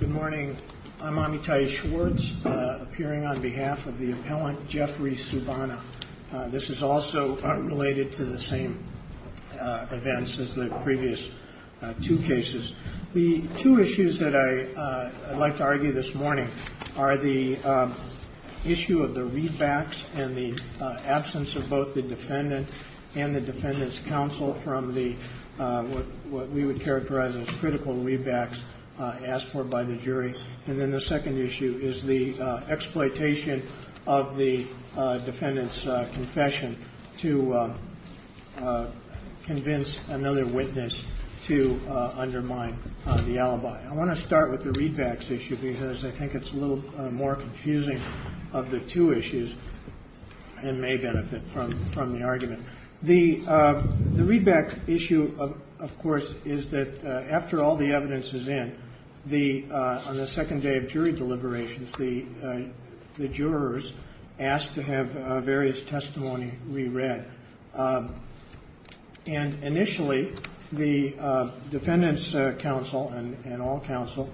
Good morning. I'm Amitai Schwartz, appearing on behalf of the appellant Jeffrey Subana. This is also related to the same events as the previous two cases. The two issues that I'd like to argue this morning are the issue of the readbacks and the absence of both the defendant and the defendant's counsel from what we would characterize as critical readbacks asked for by the jury, and then the second issue is the exploitation of the defendant's confession to convince another witness to undermine the alibi. I want to start with the readbacks issue because I think it's a little more confusing of the two issues and may benefit from the argument. The readback issue, of course, is that after all the evidence is in, on the second day of jury deliberations, the jurors ask to have various testimony reread. And initially, the defendant's counsel and all counsel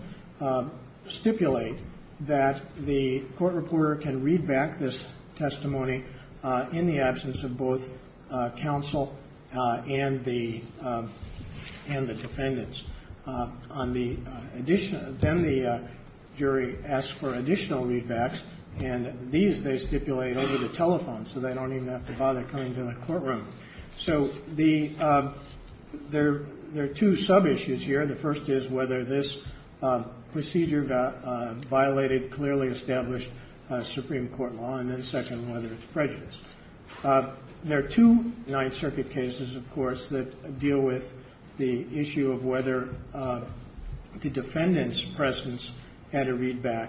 stipulate that the court reporter can read back this testimony in the absence of both counsel and the defendants. Then the jury asks for additional readbacks, and these they stipulate over the telephone so they don't even have to bother coming to the courtroom. So there are two sub-issues here. The first is whether this procedure violated clearly established Supreme Court law, and then the second is whether it's prejudiced. There are two Ninth Circuit cases, of course, that deal with the issue of whether the defendant's presence at a readback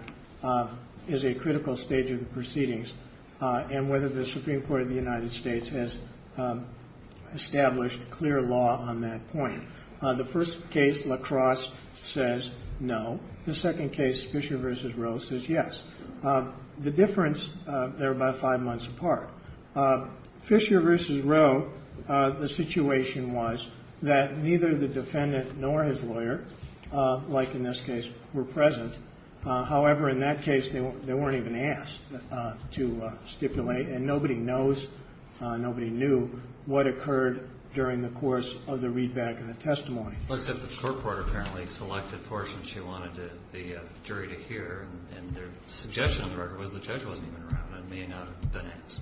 is a critical stage of the proceedings and whether the Supreme Court of the United States has established clear law on that point. The first case, La Crosse, says no. The second case, Fisher v. Rose, says yes. The difference, they're about five months apart. Fisher v. Rose, the situation was that neither the defendant nor his lawyer, like in this case, were present. However, in that case, they weren't even asked to stipulate, and nobody knows, nobody knew what occurred during the course of the readback and the testimony. Well, except the court court apparently selected portions she wanted the jury to hear, and their suggestion on the record was the judge wasn't even around and may not have been asked.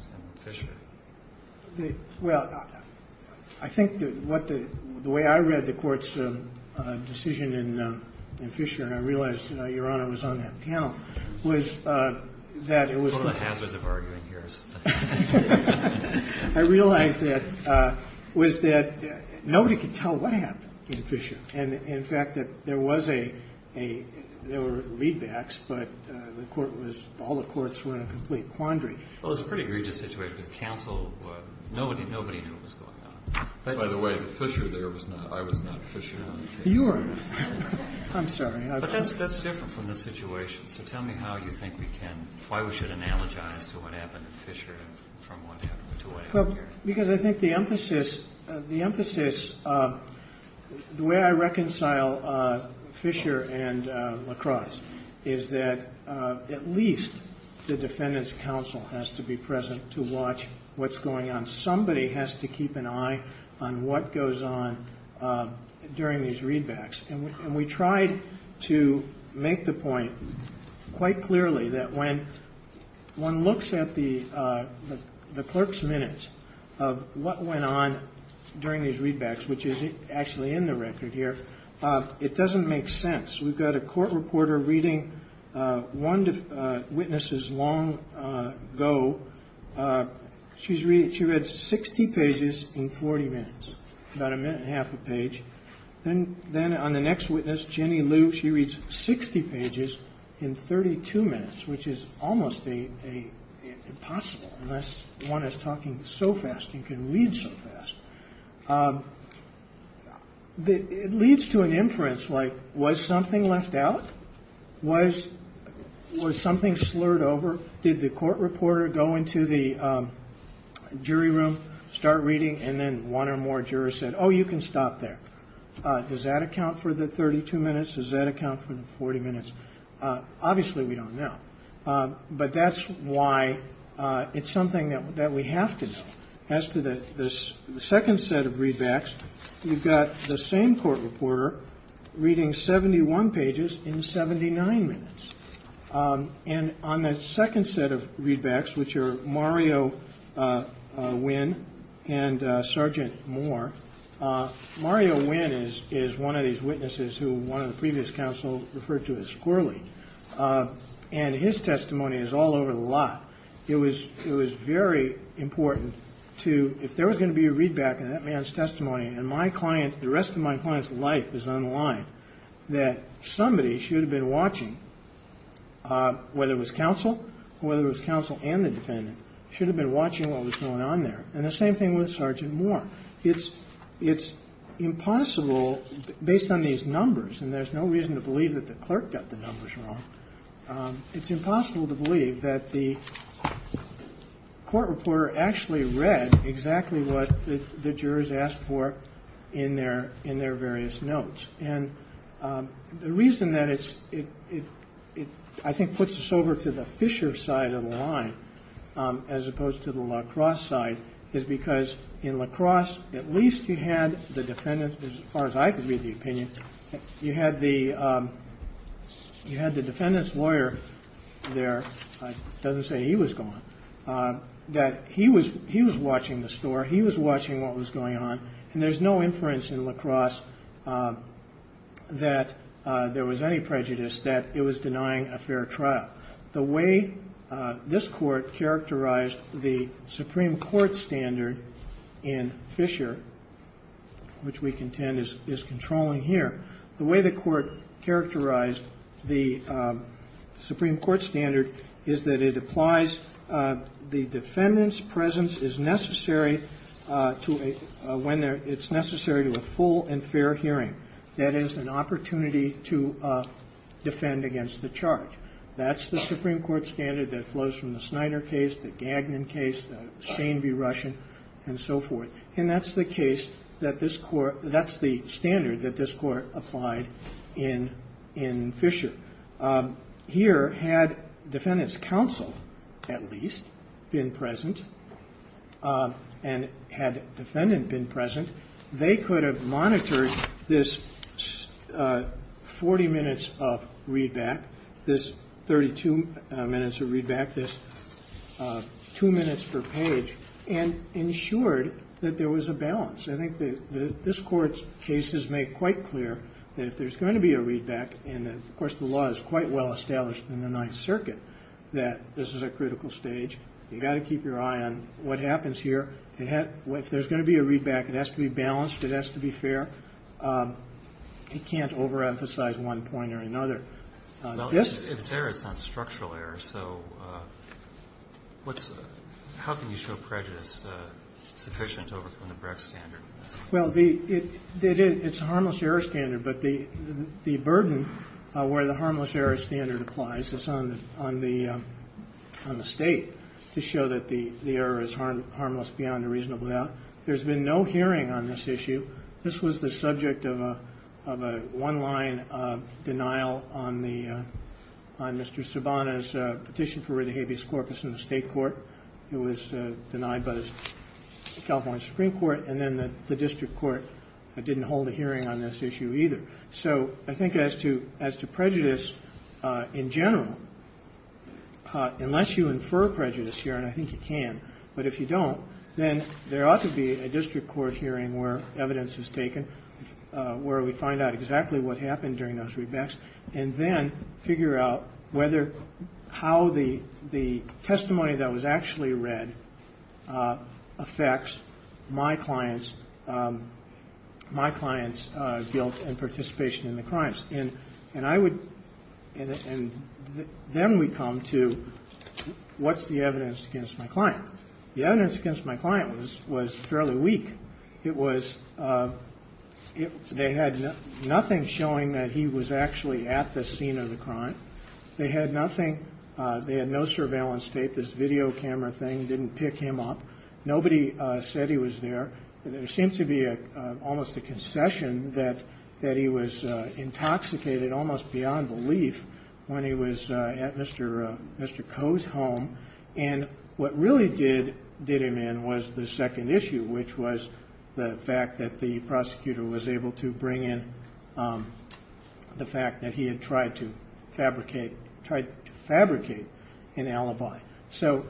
Well, I think that what the way I read the Court's decision in Fisher, and I realized, Your Honor, was on that panel, was that it was One of the hazards of arguing here is that I realized that, was that nobody could tell what happened in Fisher. And, in fact, that there was a, there were readbacks, but the Court was, all the courts were in a complete quandary. Well, it was a pretty egregious situation because counsel, nobody knew what was going on. By the way, Fisher there was not, I was not Fisher on the case. You were not. I'm sorry. But that's different from the situation. So tell me how you think we can, why we should analogize to what happened in Fisher and from what happened to what happened here. Well, because I think the emphasis, the emphasis, the way I reconcile Fisher and LaCrosse is that at least the defendant's counsel has to be present to watch what's going on. Somebody has to keep an eye on what goes on during these readbacks. And we tried to make the point quite clearly that when one looks at the clerk's minutes of what went on during these readbacks, which is actually in the record here, it doesn't make sense. We've got a court reporter reading one witness's long go. She's read, she read 60 pages in 40 minutes, about a minute and a half a page. Then on the next witness, Jenny Liu, she reads 60 pages in 32 minutes, which is almost impossible unless one is talking so fast and can read so fast. It leads to an inference like was something left out? Was something slurred over? Did the court reporter go into the jury room, start reading, and then one or more jurors said, oh, you can stop there. Does that account for the 32 minutes? Does that account for the 40 minutes? Obviously, we don't know. But that's why it's something that we have to know. As to the second set of readbacks, you've got the same court reporter reading 71 pages in 79 minutes. And on the second set of readbacks, which are Mario Nguyen and Sergeant Moore. Mario Nguyen is one of these witnesses who one of the previous counsel referred to as squirrely. And his testimony is all over the lot. It was very important to, if there was going to be a readback on that man's testimony, and my client, the rest of my client's life is on the line, that somebody should have been watching, whether it was counsel or whether it was counsel and the defendant, should have been watching what was going on there. And the same thing with Sergeant Moore. It's impossible, based on these numbers, and there's no reason to believe that the clerk got the numbers wrong, it's impossible to believe that the court reporter actually read exactly what the jurors asked for in their various notes. And the reason that it, I think, puts us over to the Fisher side of the line, as opposed to the La Crosse side, is because in La Crosse, at least you had the defendant, as far as I could read the opinion, you had the defendant's lawyer there, it doesn't say he was gone, that he was watching the store, he was watching what was going on, and there's no inference in La Crosse that there was any prejudice that it was denying a fair trial. The way this Court characterized the Supreme Court standard in Fisher, which we contend is controlling here, the way the Court characterized the Supreme Court standard is that it applies the defendant's presence is necessary to a, when it's necessary to a full and fair hearing, that is, an opportunity to defend against the charge. That's the Supreme Court standard that flows from the Snyder case, the Gagnon case, the Sane v. Russian, and so forth. And that's the case that this Court, that's the standard that this Court applied in, in Fisher. Here, had defendant's counsel, at least, been present, and had defendant been present, they could have monitored this 40 minutes of readback, this 32 minutes of readback, this two minutes per page, and ensured that there was a balance. I think that this Court's case has made quite clear that if there's going to be a readback, and of course the law is quite well established in the Ninth Circuit that this is a critical stage, you've got to keep your eye on what happens here. If there's going to be a readback, it has to be balanced, it has to be fair. It can't overemphasize one point or another. Yes? If it's error, it's not structural error, so how can you show prejudice sufficient to overcome the Brex standard? Well, it's a harmless error standard, but the burden where the harmless error standard applies is on the State, to show that the error is harmless beyond a reasonable doubt. There's been no hearing on this issue. This was the subject of a one-line denial on the Mr. Sabana's petition for rid of habeas corpus in the State court. It was denied by the California Supreme Court, and then the district court didn't hold a hearing on this issue either. So I think as to prejudice in general, unless you infer prejudice here, and I think you can, but if you don't, then there ought to be a district court hearing where evidence is taken, where we find out exactly what happened during those readbacks, and then figure out whether how the testimony that was actually read affects my client's guilt and participation in the crimes. And I would, and then we come to what's the evidence against my client? The evidence against my client was fairly weak. It was, they had nothing showing that he was actually at the scene of the crime. They had nothing, they had no surveillance tape. This video camera thing didn't pick him up. Nobody said he was there. There seemed to be almost a concession that he was intoxicated almost beyond belief when he was at Mr. Coe's home. And what really did him in was the second issue, which was the fact that the prosecutor was able to bring in the fact that he had tried to fabricate, tried to fabricate an alibi. So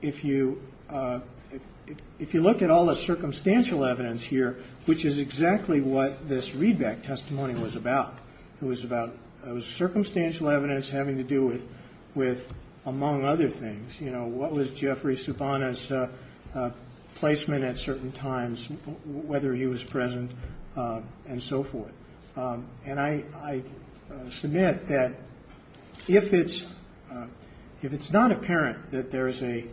if you look at all the circumstantial evidence here, which is exactly what this readback testimony was about, it was about circumstantial evidence having to do with, among other things, you know, what was Jeffrey Subbana's placement at certain times, whether he was present, and so forth. And I submit that if it's not apparent that there is a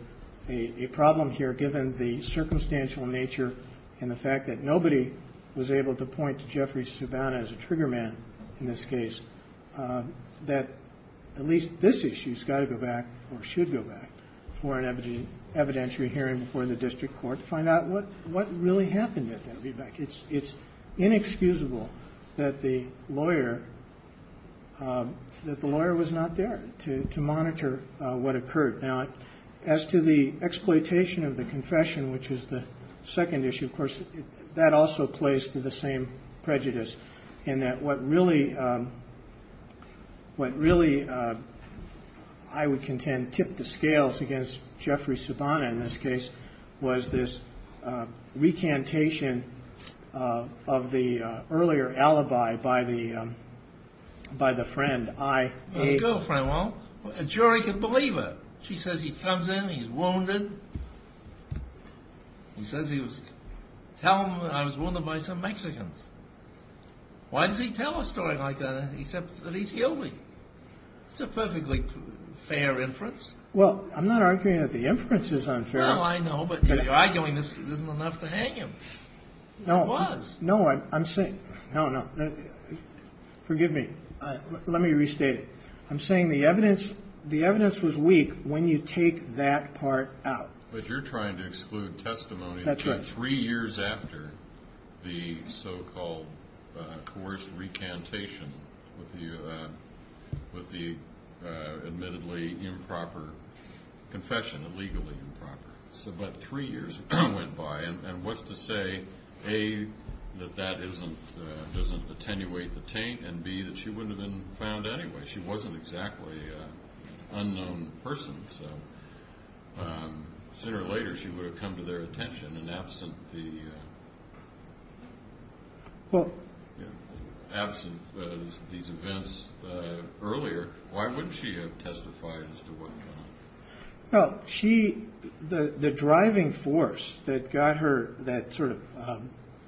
problem here given the circumstantial nature and the fact that nobody was able to point to Jeffrey Subbana as a trigger man in this case, that at least this issue has got to go back or should go back for an evidentiary hearing before the district court to find out what really happened at that readback. It's inexcusable that the lawyer was not there to monitor what occurred. Now, as to the exploitation of the confession, which is the second issue, of course, that also plays to the same prejudice in that what really, I would contend, that tipped the scales against Jeffrey Subbana in this case was this recantation of the earlier alibi by the friend. Well, a jury can believe it. She says he comes in, he's wounded. He says he was wounded by some Mexicans. Why does he tell a story like that except that he's guilty? It's a perfectly fair inference. Well, I'm not arguing that the inference is unfair. Well, I know, but you're arguing this isn't enough to hang him. It was. No, I'm saying – no, no. Forgive me. Let me restate it. I'm saying the evidence was weak when you take that part out. But you're trying to exclude testimony that came three years after the so-called coerced recantation with the admittedly improper confession, illegally improper. So about three years went by, and what's to say, A, that that doesn't attenuate the taint, and, B, that she wouldn't have been found anyway? She wasn't exactly an unknown person, so sooner or later she would have come to their attention. And absent these events earlier, why wouldn't she have testified as to what went on? Well, she – the driving force that got her that sort of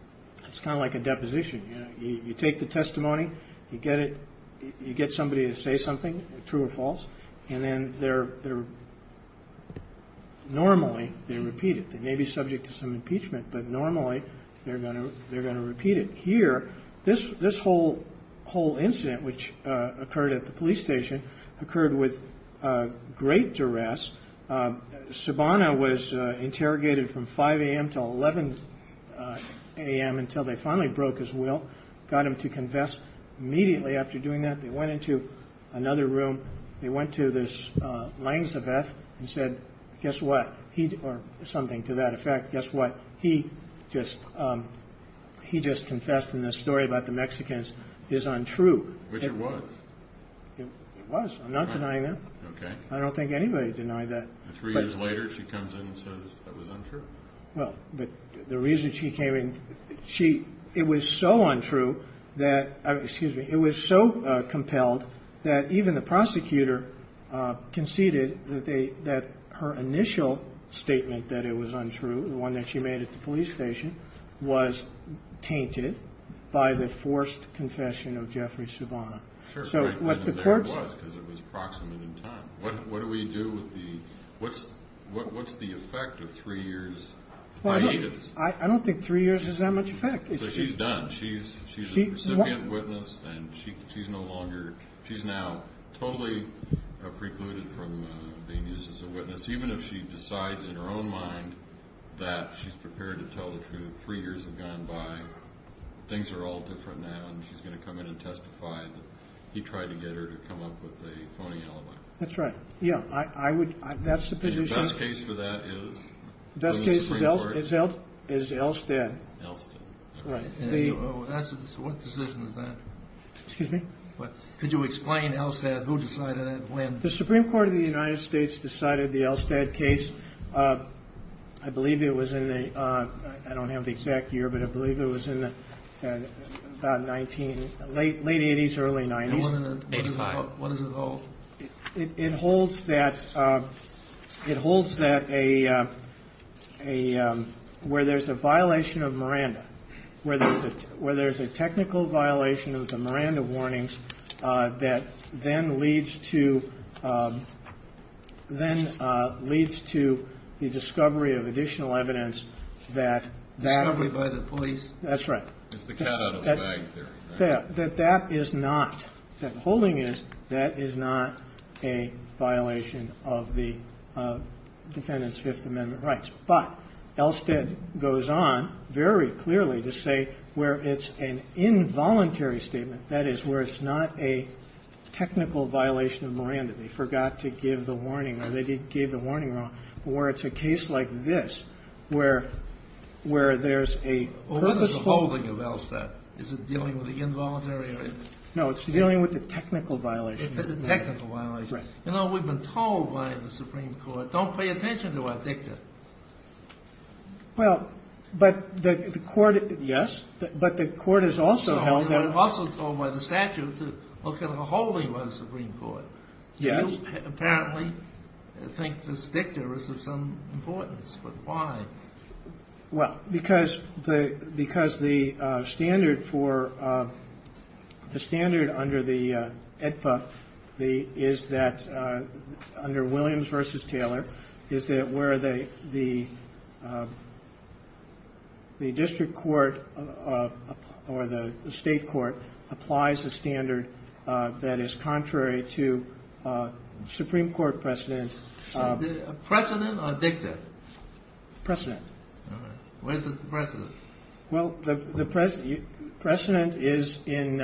– it's kind of like a deposition. You take the testimony, you get it – you get somebody to say something, true or false, and then they're – normally they're repeated. They may be subject to some impeachment, but normally they're going to repeat it. Here, this whole incident, which occurred at the police station, occurred with great duress. Sabana was interrogated from 5 a.m. until 11 a.m. until they finally broke his will, got him to confess immediately after doing that. They went into another room. They went to this Langsabeth and said, guess what? He – or something to that effect. Guess what? He just confessed in this story about the Mexicans is untrue. Which it was. It was. I'm not denying that. Okay. I don't think anybody denied that. Three years later, she comes in and says it was untrue? Well, but the reason she came in – she – it was so untrue that – excuse me. It was so compelled that even the prosecutor conceded that they – that her initial statement that it was untrue, the one that she made at the police station, was tainted by the forced confession of Jeffrey Sabana. So what the courts – Sure. And there it was because it was proximate in time. What do we do with the – what's the effect of three years? I don't think three years has that much effect. So she's done. She's a recipient witness and she's no longer – she's now totally precluded from being used as a witness, even if she decides in her own mind that she's prepared to tell the truth. Three years have gone by. Things are all different now and she's going to come in and testify that he tried to get her to come up with a phony alibi. That's right. Yeah, I would – that's the position. The best case for that is? The best case is Elstad. Elstad. Right. What decision is that? Excuse me? Could you explain Elstad? Who decided that? When? The Supreme Court of the United States decided the Elstad case. I believe it was in the – I don't have the exact year, but I believe it was in the late 80s, early 90s. And what is it called? It holds that a – where there's a violation of Miranda, where there's a technical violation of the Miranda warnings that then leads to – then leads to the discovery of additional evidence that that – Discovery by the police? That's right. It's the cat out of the bag theory. That that is not – that holding it, that is not a violation of the defendant's Fifth Amendment rights. But Elstad goes on very clearly to say where it's an involuntary statement, that is, where it's not a technical violation of Miranda. They forgot to give the warning, or they gave the warning wrong. Or it's a case like this, where there's a purposeful – Is it dealing with the involuntary? No, it's dealing with the technical violation. The technical violation. Right. You know, we've been told by the Supreme Court, don't pay attention to our dicta. Well, but the court – yes. But the court has also held that – Also told by the statute to look at a holding by the Supreme Court. Yes. You apparently think this dicta is of some importance, but why? Well, because the standard for – the standard under the AEDPA is that – under Williams v. Taylor is that where the district court or the state court applies a standard that is contrary to Supreme Court precedent. Precedent or dicta? Precedent. All right. Where's the precedent? Well, the precedent is in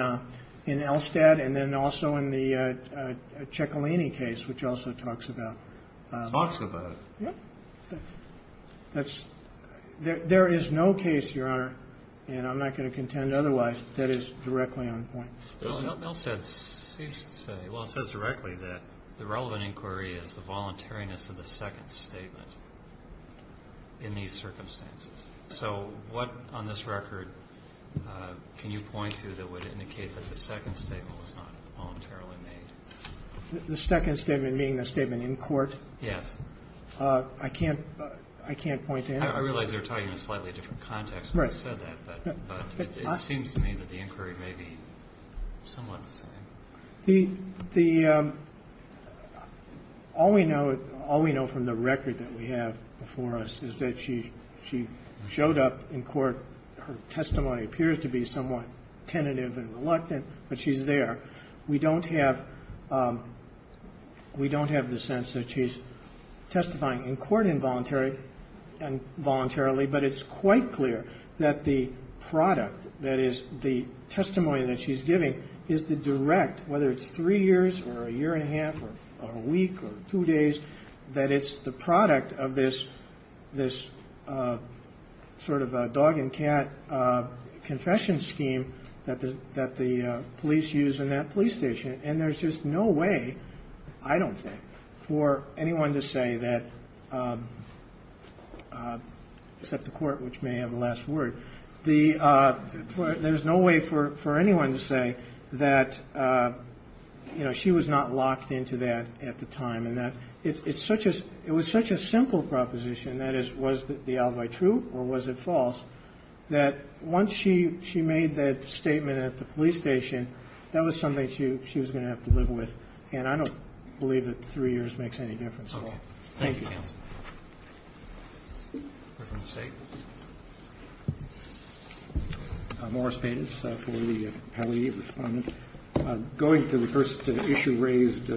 Elstad and then also in the Ciccolini case, which also talks about – Talks about? Yes. That's – there is no case, Your Honor, and I'm not going to contend otherwise, that is directly on point. Elstad seems to say – well, it says directly that the relevant inquiry is the voluntariness of the second statement in these circumstances. So what on this record can you point to that would indicate that the second statement was not voluntarily made? The second statement being the statement in court? Yes. I can't – I can't point to anything. I realize you're talking in a slightly different context when you said that, but it seems to me that the inquiry may be somewhat the same. The – the – all we know – all we know from the record that we have before us is that she – she showed up in court. Her testimony appears to be somewhat tentative and reluctant, but she's there. We don't have – we don't have the sense that she's testifying in court involuntarily and voluntarily, but it's quite clear that the product, that is, the testimony that she's giving is the direct, whether it's three years or a year and a half or a week or two days, that it's the product of this – this sort of dog and cat confession scheme that the – that the police use in that police station. And there's just no way, I don't think, for anyone to say that – except the court, which may have the last word. The – there's no way for anyone to say that, you know, she was not locked into that at the time and that it's such a – it was such a simple proposition, that is, was the alibi true or was it false, that once she – she made that statement at the police station, that was something she was going to have to live with. And I don't believe that three years makes any difference at all. Thank you. Roberts. Morris Paytas for the penalty of the defendant. Going to the first issue raised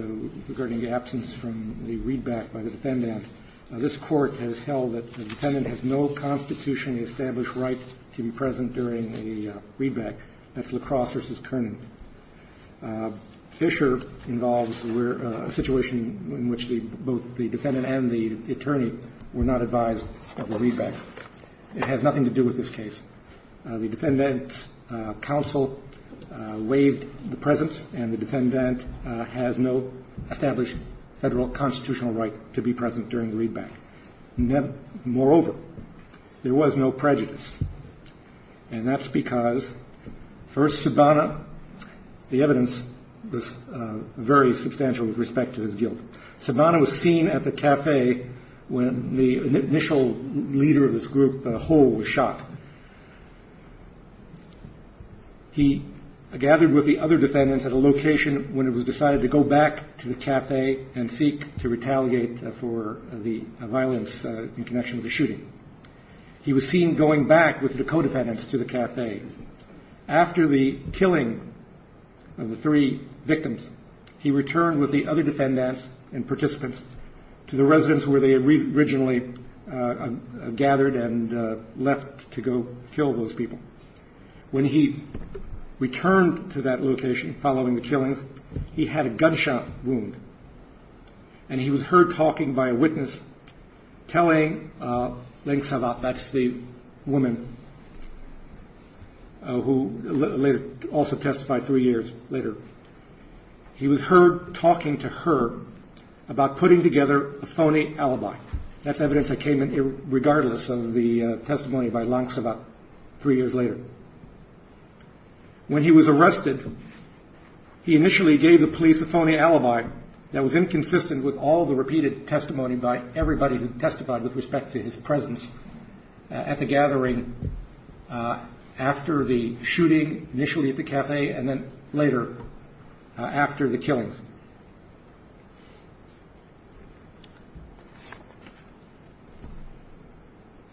regarding the absence from the readback by the defendant. This court has held that a defendant has no constitutionally established right to be present during a readback. That's LaCrosse versus Kerner. Fisher involves where – a situation in which the – both the defendant and the defendant attorney were not advised of the readback. It has nothing to do with this case. The defendant's counsel waived the presence, and the defendant has no established federal constitutional right to be present during the readback. Moreover, there was no prejudice. And that's because, first, Sibana – the evidence was very substantial with respect to his guilt. Sibana was seen at the café when the initial leader of this group, Hole, was shot. He gathered with the other defendants at a location when it was decided to go back to the café and seek to retaliate for the violence in connection with the shooting. He was seen going back with the co-defendants to the café. After the killing of the three victims, he returned with the other defendants and participants to the residence where they had originally gathered and left to go kill those people. When he returned to that location following the killings, he had a gunshot wound, and he was heard talking by a witness telling Langsavat – that's the woman who also testified three years later – he was heard talking to her about putting together a phony alibi. That's evidence that came in regardless of the testimony by Langsavat three years later. When he was arrested, he initially gave the police a phony alibi that was inconsistent with all the repeated testimony by everybody who testified with respect to his presence at the gathering after the shooting initially at the café and then later after the killings.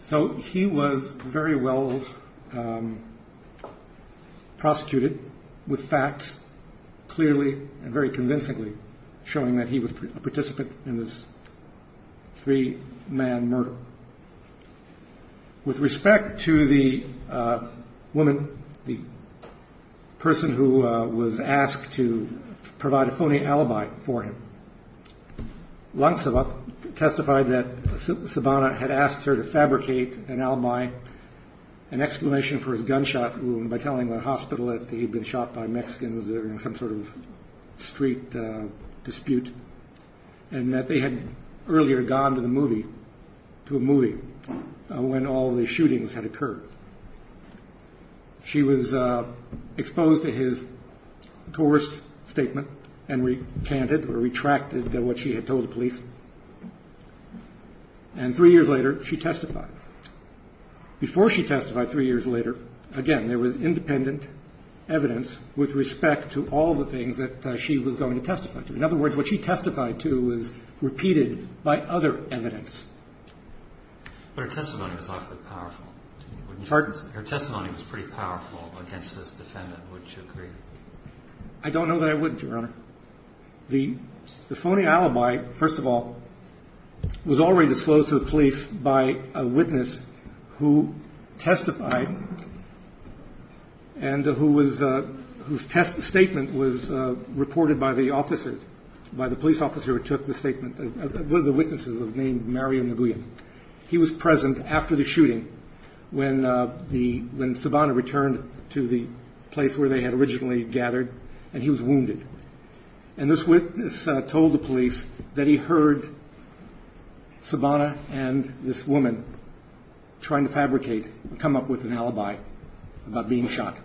So he was very well prosecuted with facts clearly and very convincingly showing that he was a participant in this three-man murder. With respect to the woman, the person who was asked to provide a phony alibi for him, Langsavat testified that Sabana had asked her to fabricate an alibi, an exclamation for his gunshot wound by telling the hospital that he'd been shot by Mexicans during some sort of street dispute and that they had earlier gone to a movie when all the shootings had occurred. She was exposed to his coerced statement and recanted or retracted what she had told the police, and three years later she testified. Before she testified three years later, again, there was independent evidence with respect to all the things that she was going to testify to. In other words, what she testified to was repeated by other evidence. But her testimony was awfully powerful. Pardon? Her testimony was pretty powerful against this defendant. Would you agree? I don't know that I wouldn't, Your Honor. The phony alibi, first of all, was already disclosed to the police by a witness who testified and whose statement was reported by the police officer who took the statement. One of the witnesses was named Mario Nguyen. He was present after the shooting when Sabana returned to the place where they had originally gathered, and he was wounded. And this witness told the police that he heard Sabana and this woman trying to fabricate, come up with an alibi about being shot.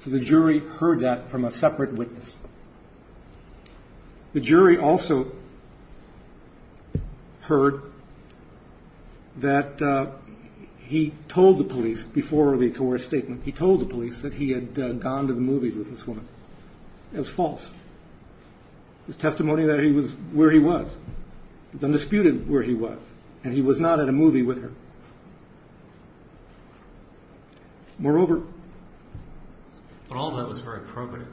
So the jury heard that from a separate witness. The jury also heard that he told the police before the coerced statement, he told the police that he had gone to the movies with this woman. It was false. His testimony that he was where he was was undisputed where he was, and he was not at a movie with her. Moreover. But all of that was very probative,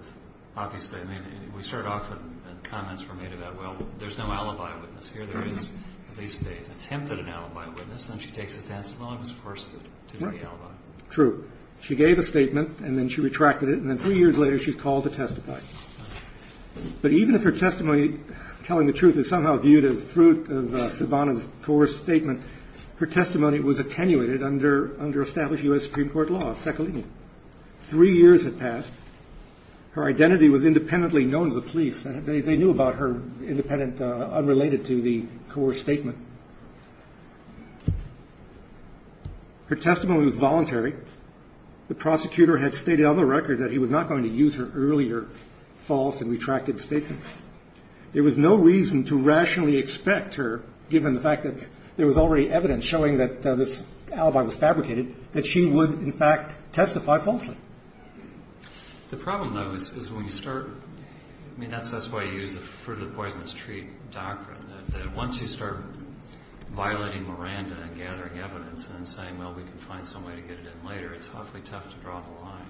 obviously. I mean, we start off with comments were made about, well, there's no alibi witness here. There is at least an attempt at an alibi witness. Then she takes us down to, well, it was forced to be an alibi. True. She gave a statement, and then she retracted it, and then three years later she's called to testify. But even if her testimony, telling the truth, is somehow viewed as fruit of Sabana's coerced statement, her testimony was attenuated under established U.S. Supreme Court law, SECALIN. Three years had passed. Her identity was independently known to the police. They knew about her independent, unrelated to the coerced statement. Her testimony was voluntary. The prosecutor had stated on the record that he was not going to use her earlier false and retracted statement. There was no reason to rationally expect her, given the fact that there was already evidence showing that this alibi was fabricated, that she would, in fact, testify falsely. The problem, though, is when you start, I mean, that's why you use the fruit of the poisonous tree doctrine, that once you start violating Miranda and gathering evidence and then saying, well, we can find some way to get it in later, it's awfully tough to draw the line.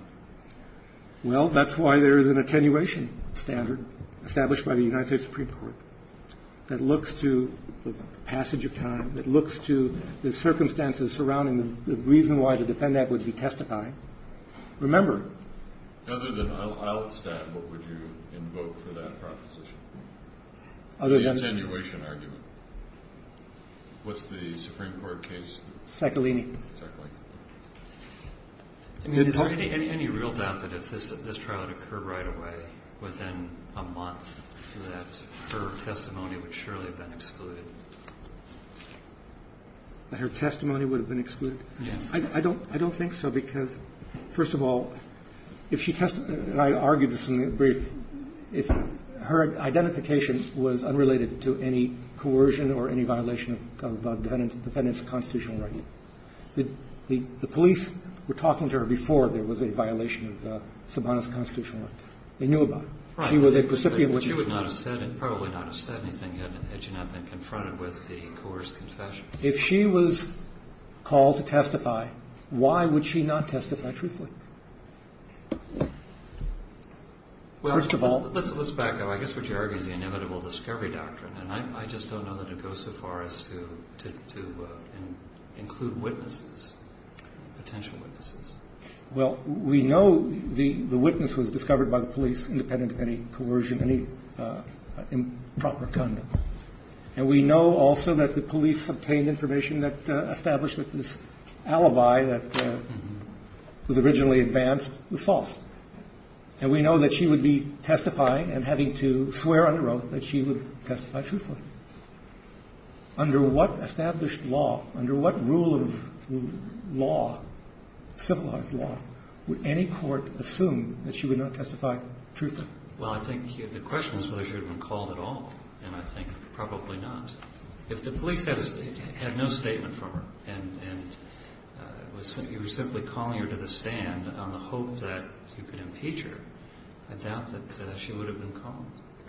Well, that's why there is an attenuation standard established by the United States Supreme Court that looks to the passage of time, that looks to the circumstances surrounding the reason why to defend that would be testifying. Remember. Other than I'll stand, what would you invoke for that proposition? The attenuation argument. What's the Supreme Court case? Saccolini. Saccolini. I mean, is there any real doubt that if this trial had occurred right away, within a month, that her testimony would surely have been excluded? Her testimony would have been excluded? Yes. I don't think so, because, first of all, if she testified, and I argued this in the brief, if her identification was unrelated to any coercion or any violation of the defendant's constitutional right, the police were talking to her before there was a violation of Sabana's constitutional right. They knew about it. She was a recipient. But she would not have said it, probably not have said anything, had she not been confronted with the coerced confession. If she was called to testify, why would she not testify truthfully? Well, let's back up. I guess what you're arguing is the inevitable discovery doctrine. And I just don't know that it goes so far as to include witnesses, potential witnesses. Well, we know the witness was discovered by the police independent of any coercion, any improper conduct. And we know also that the police obtained information that established that this alibi that was originally advanced was false. And we know that she would be testifying and having to swear under oath that she would testify truthfully. Under what established law, under what rule of law, civilized law, would any court assume that she would not testify truthfully? Well, I think the question is whether she would have been called at all. And I think probably not. If the police had no statement from her and you were simply calling her to the stand on the hope that you could impeach her, I doubt that she would have been called.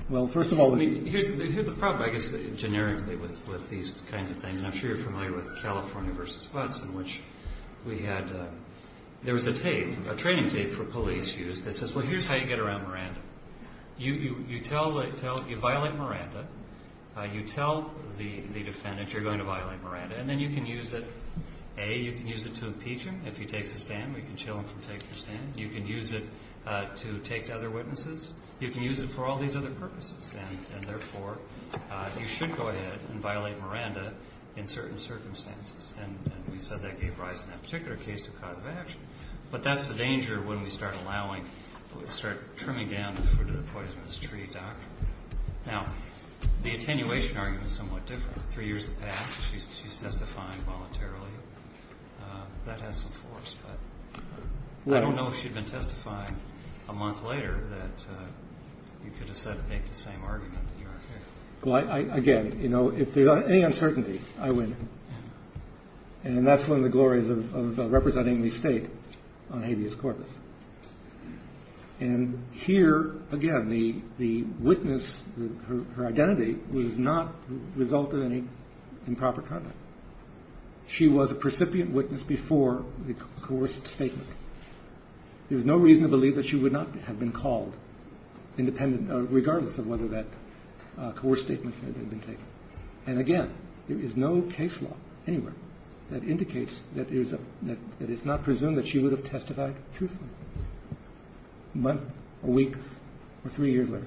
Well, first of all, let me – Here's the problem, I guess, generically with these kinds of things, and I'm sure you're familiar with California v. Watts in which we had – there was a tape, a training tape for police used that says, well, here's how you get around Miranda. You tell – you violate Miranda. You tell the defendant you're going to violate Miranda. And then you can use it – A, you can use it to impeach him if he takes a stand. We can chill him from taking a stand. You can use it to take to other witnesses. You can use it for all these other purposes. And therefore, you should go ahead and violate Miranda in certain circumstances. And we said that gave rise in that particular case to cause of action. But that's the danger when we start allowing – when we start trimming down the fruit of the poisonous tree, Doc. Now, the attenuation argument is somewhat different. Three years have passed. She's testifying voluntarily. That has some force. But I don't know if she'd been testifying a month later that you could have said to make the same argument that you are here. Well, again, you know, if there's any uncertainty, I win. And that's one of the glories of representing the state on habeas corpus. And here, again, the witness, her identity, was not the result of any improper conduct. She was a precipient witness before the coerced statement. There's no reason to believe that she would not have been called independent regardless of whether that coerced statement had been taken. And, again, there is no case law anywhere that indicates that it's not presumed that she would have testified truthfully a month, a week, or three years later.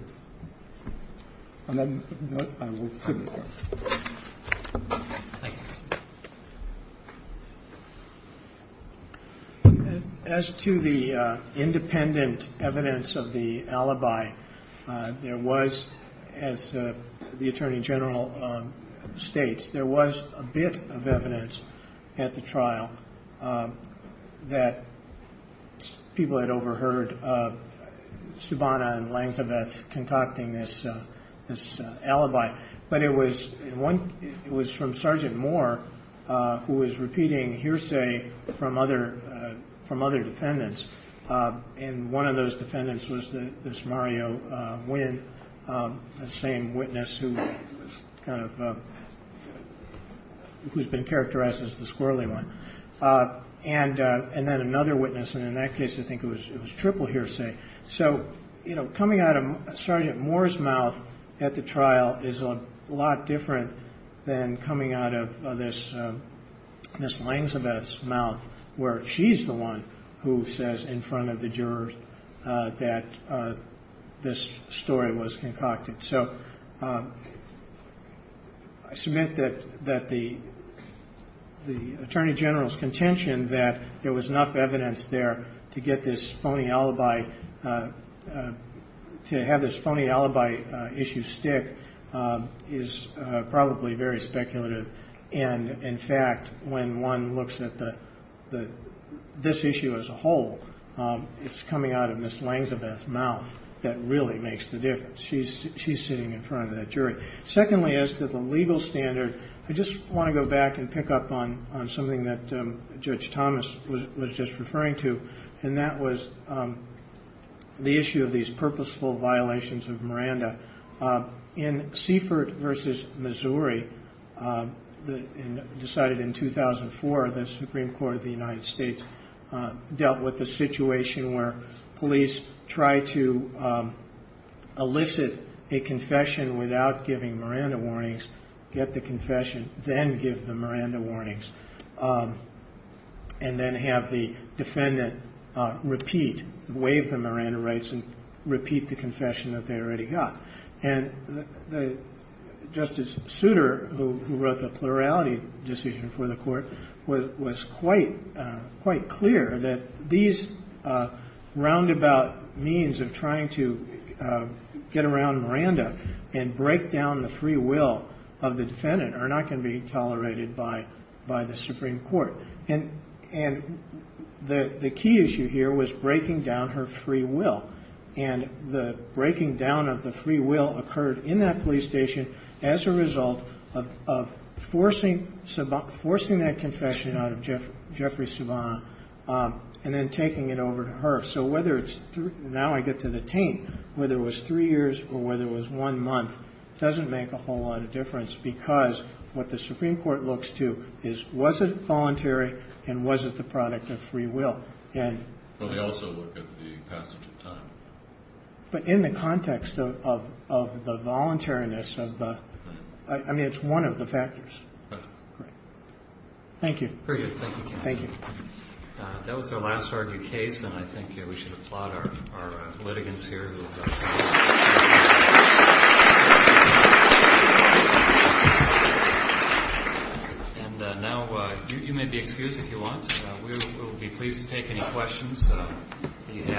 On that note, I will submit. Thank you. As to the independent evidence of the alibi, there was, as the Attorney General states, there was a bit of evidence at the trial that people had overheard Subana and Langsabeth concocting this alibi. But it was from Sergeant Moore, who was repeating hearsay from other defendants. And one of those defendants was this Mario Nguyen, the same witness, who's been characterized as the squirrely one. And then another witness. And in that case, I think it was triple hearsay. So, you know, coming out of Sergeant Moore's mouth at the trial is a lot different than coming out of this Ms. Langsabeth's mouth, where she's the one who says in front of the jurors that this story was concocted. So I submit that the Attorney General's contention that there was enough evidence there to get this phony alibi, to have this phony alibi issue stick is probably very speculative. And, in fact, when one looks at this issue as a whole, it's coming out of Ms. Langsabeth's mouth that really makes the difference. She's sitting in front of that jury. Secondly, as to the legal standard, I just want to go back and pick up on something that Judge Thomas was just referring to, and that was the issue of these purposeful violations of Miranda. In Seaford v. Missouri, decided in 2004, the Supreme Court of the United States dealt with the situation where police tried to elicit a confession without giving Miranda warnings, get the confession, then give the Miranda warnings, and then have the defendant repeat, waive the Miranda rights, and repeat the confession that they already got. And Justice Souter, who wrote the plurality decision for the court, was quite clear that these roundabout means of trying to get around Miranda and break down the free will of the defendant are not going to be tolerated by the Supreme Court. And the key issue here was breaking down her free will. And the breaking down of the free will occurred in that police station as a result of forcing that confession out of Jeffrey Subban, and then taking it over to her. So whether it's – now I get to the taint. Whether it was three years or whether it was one month doesn't make a whole lot of difference because what the Supreme Court looks to is was it voluntary and was it the product of free will. But they also look at the passage of time. But in the context of the voluntariness of the – I mean, it's one of the factors. Thank you. Very good. Thank you, counsel. Thank you. That was our last argued case, and I think we should applaud our litigants here. And now you may be excused if you want. We will be pleased to take any questions that you have.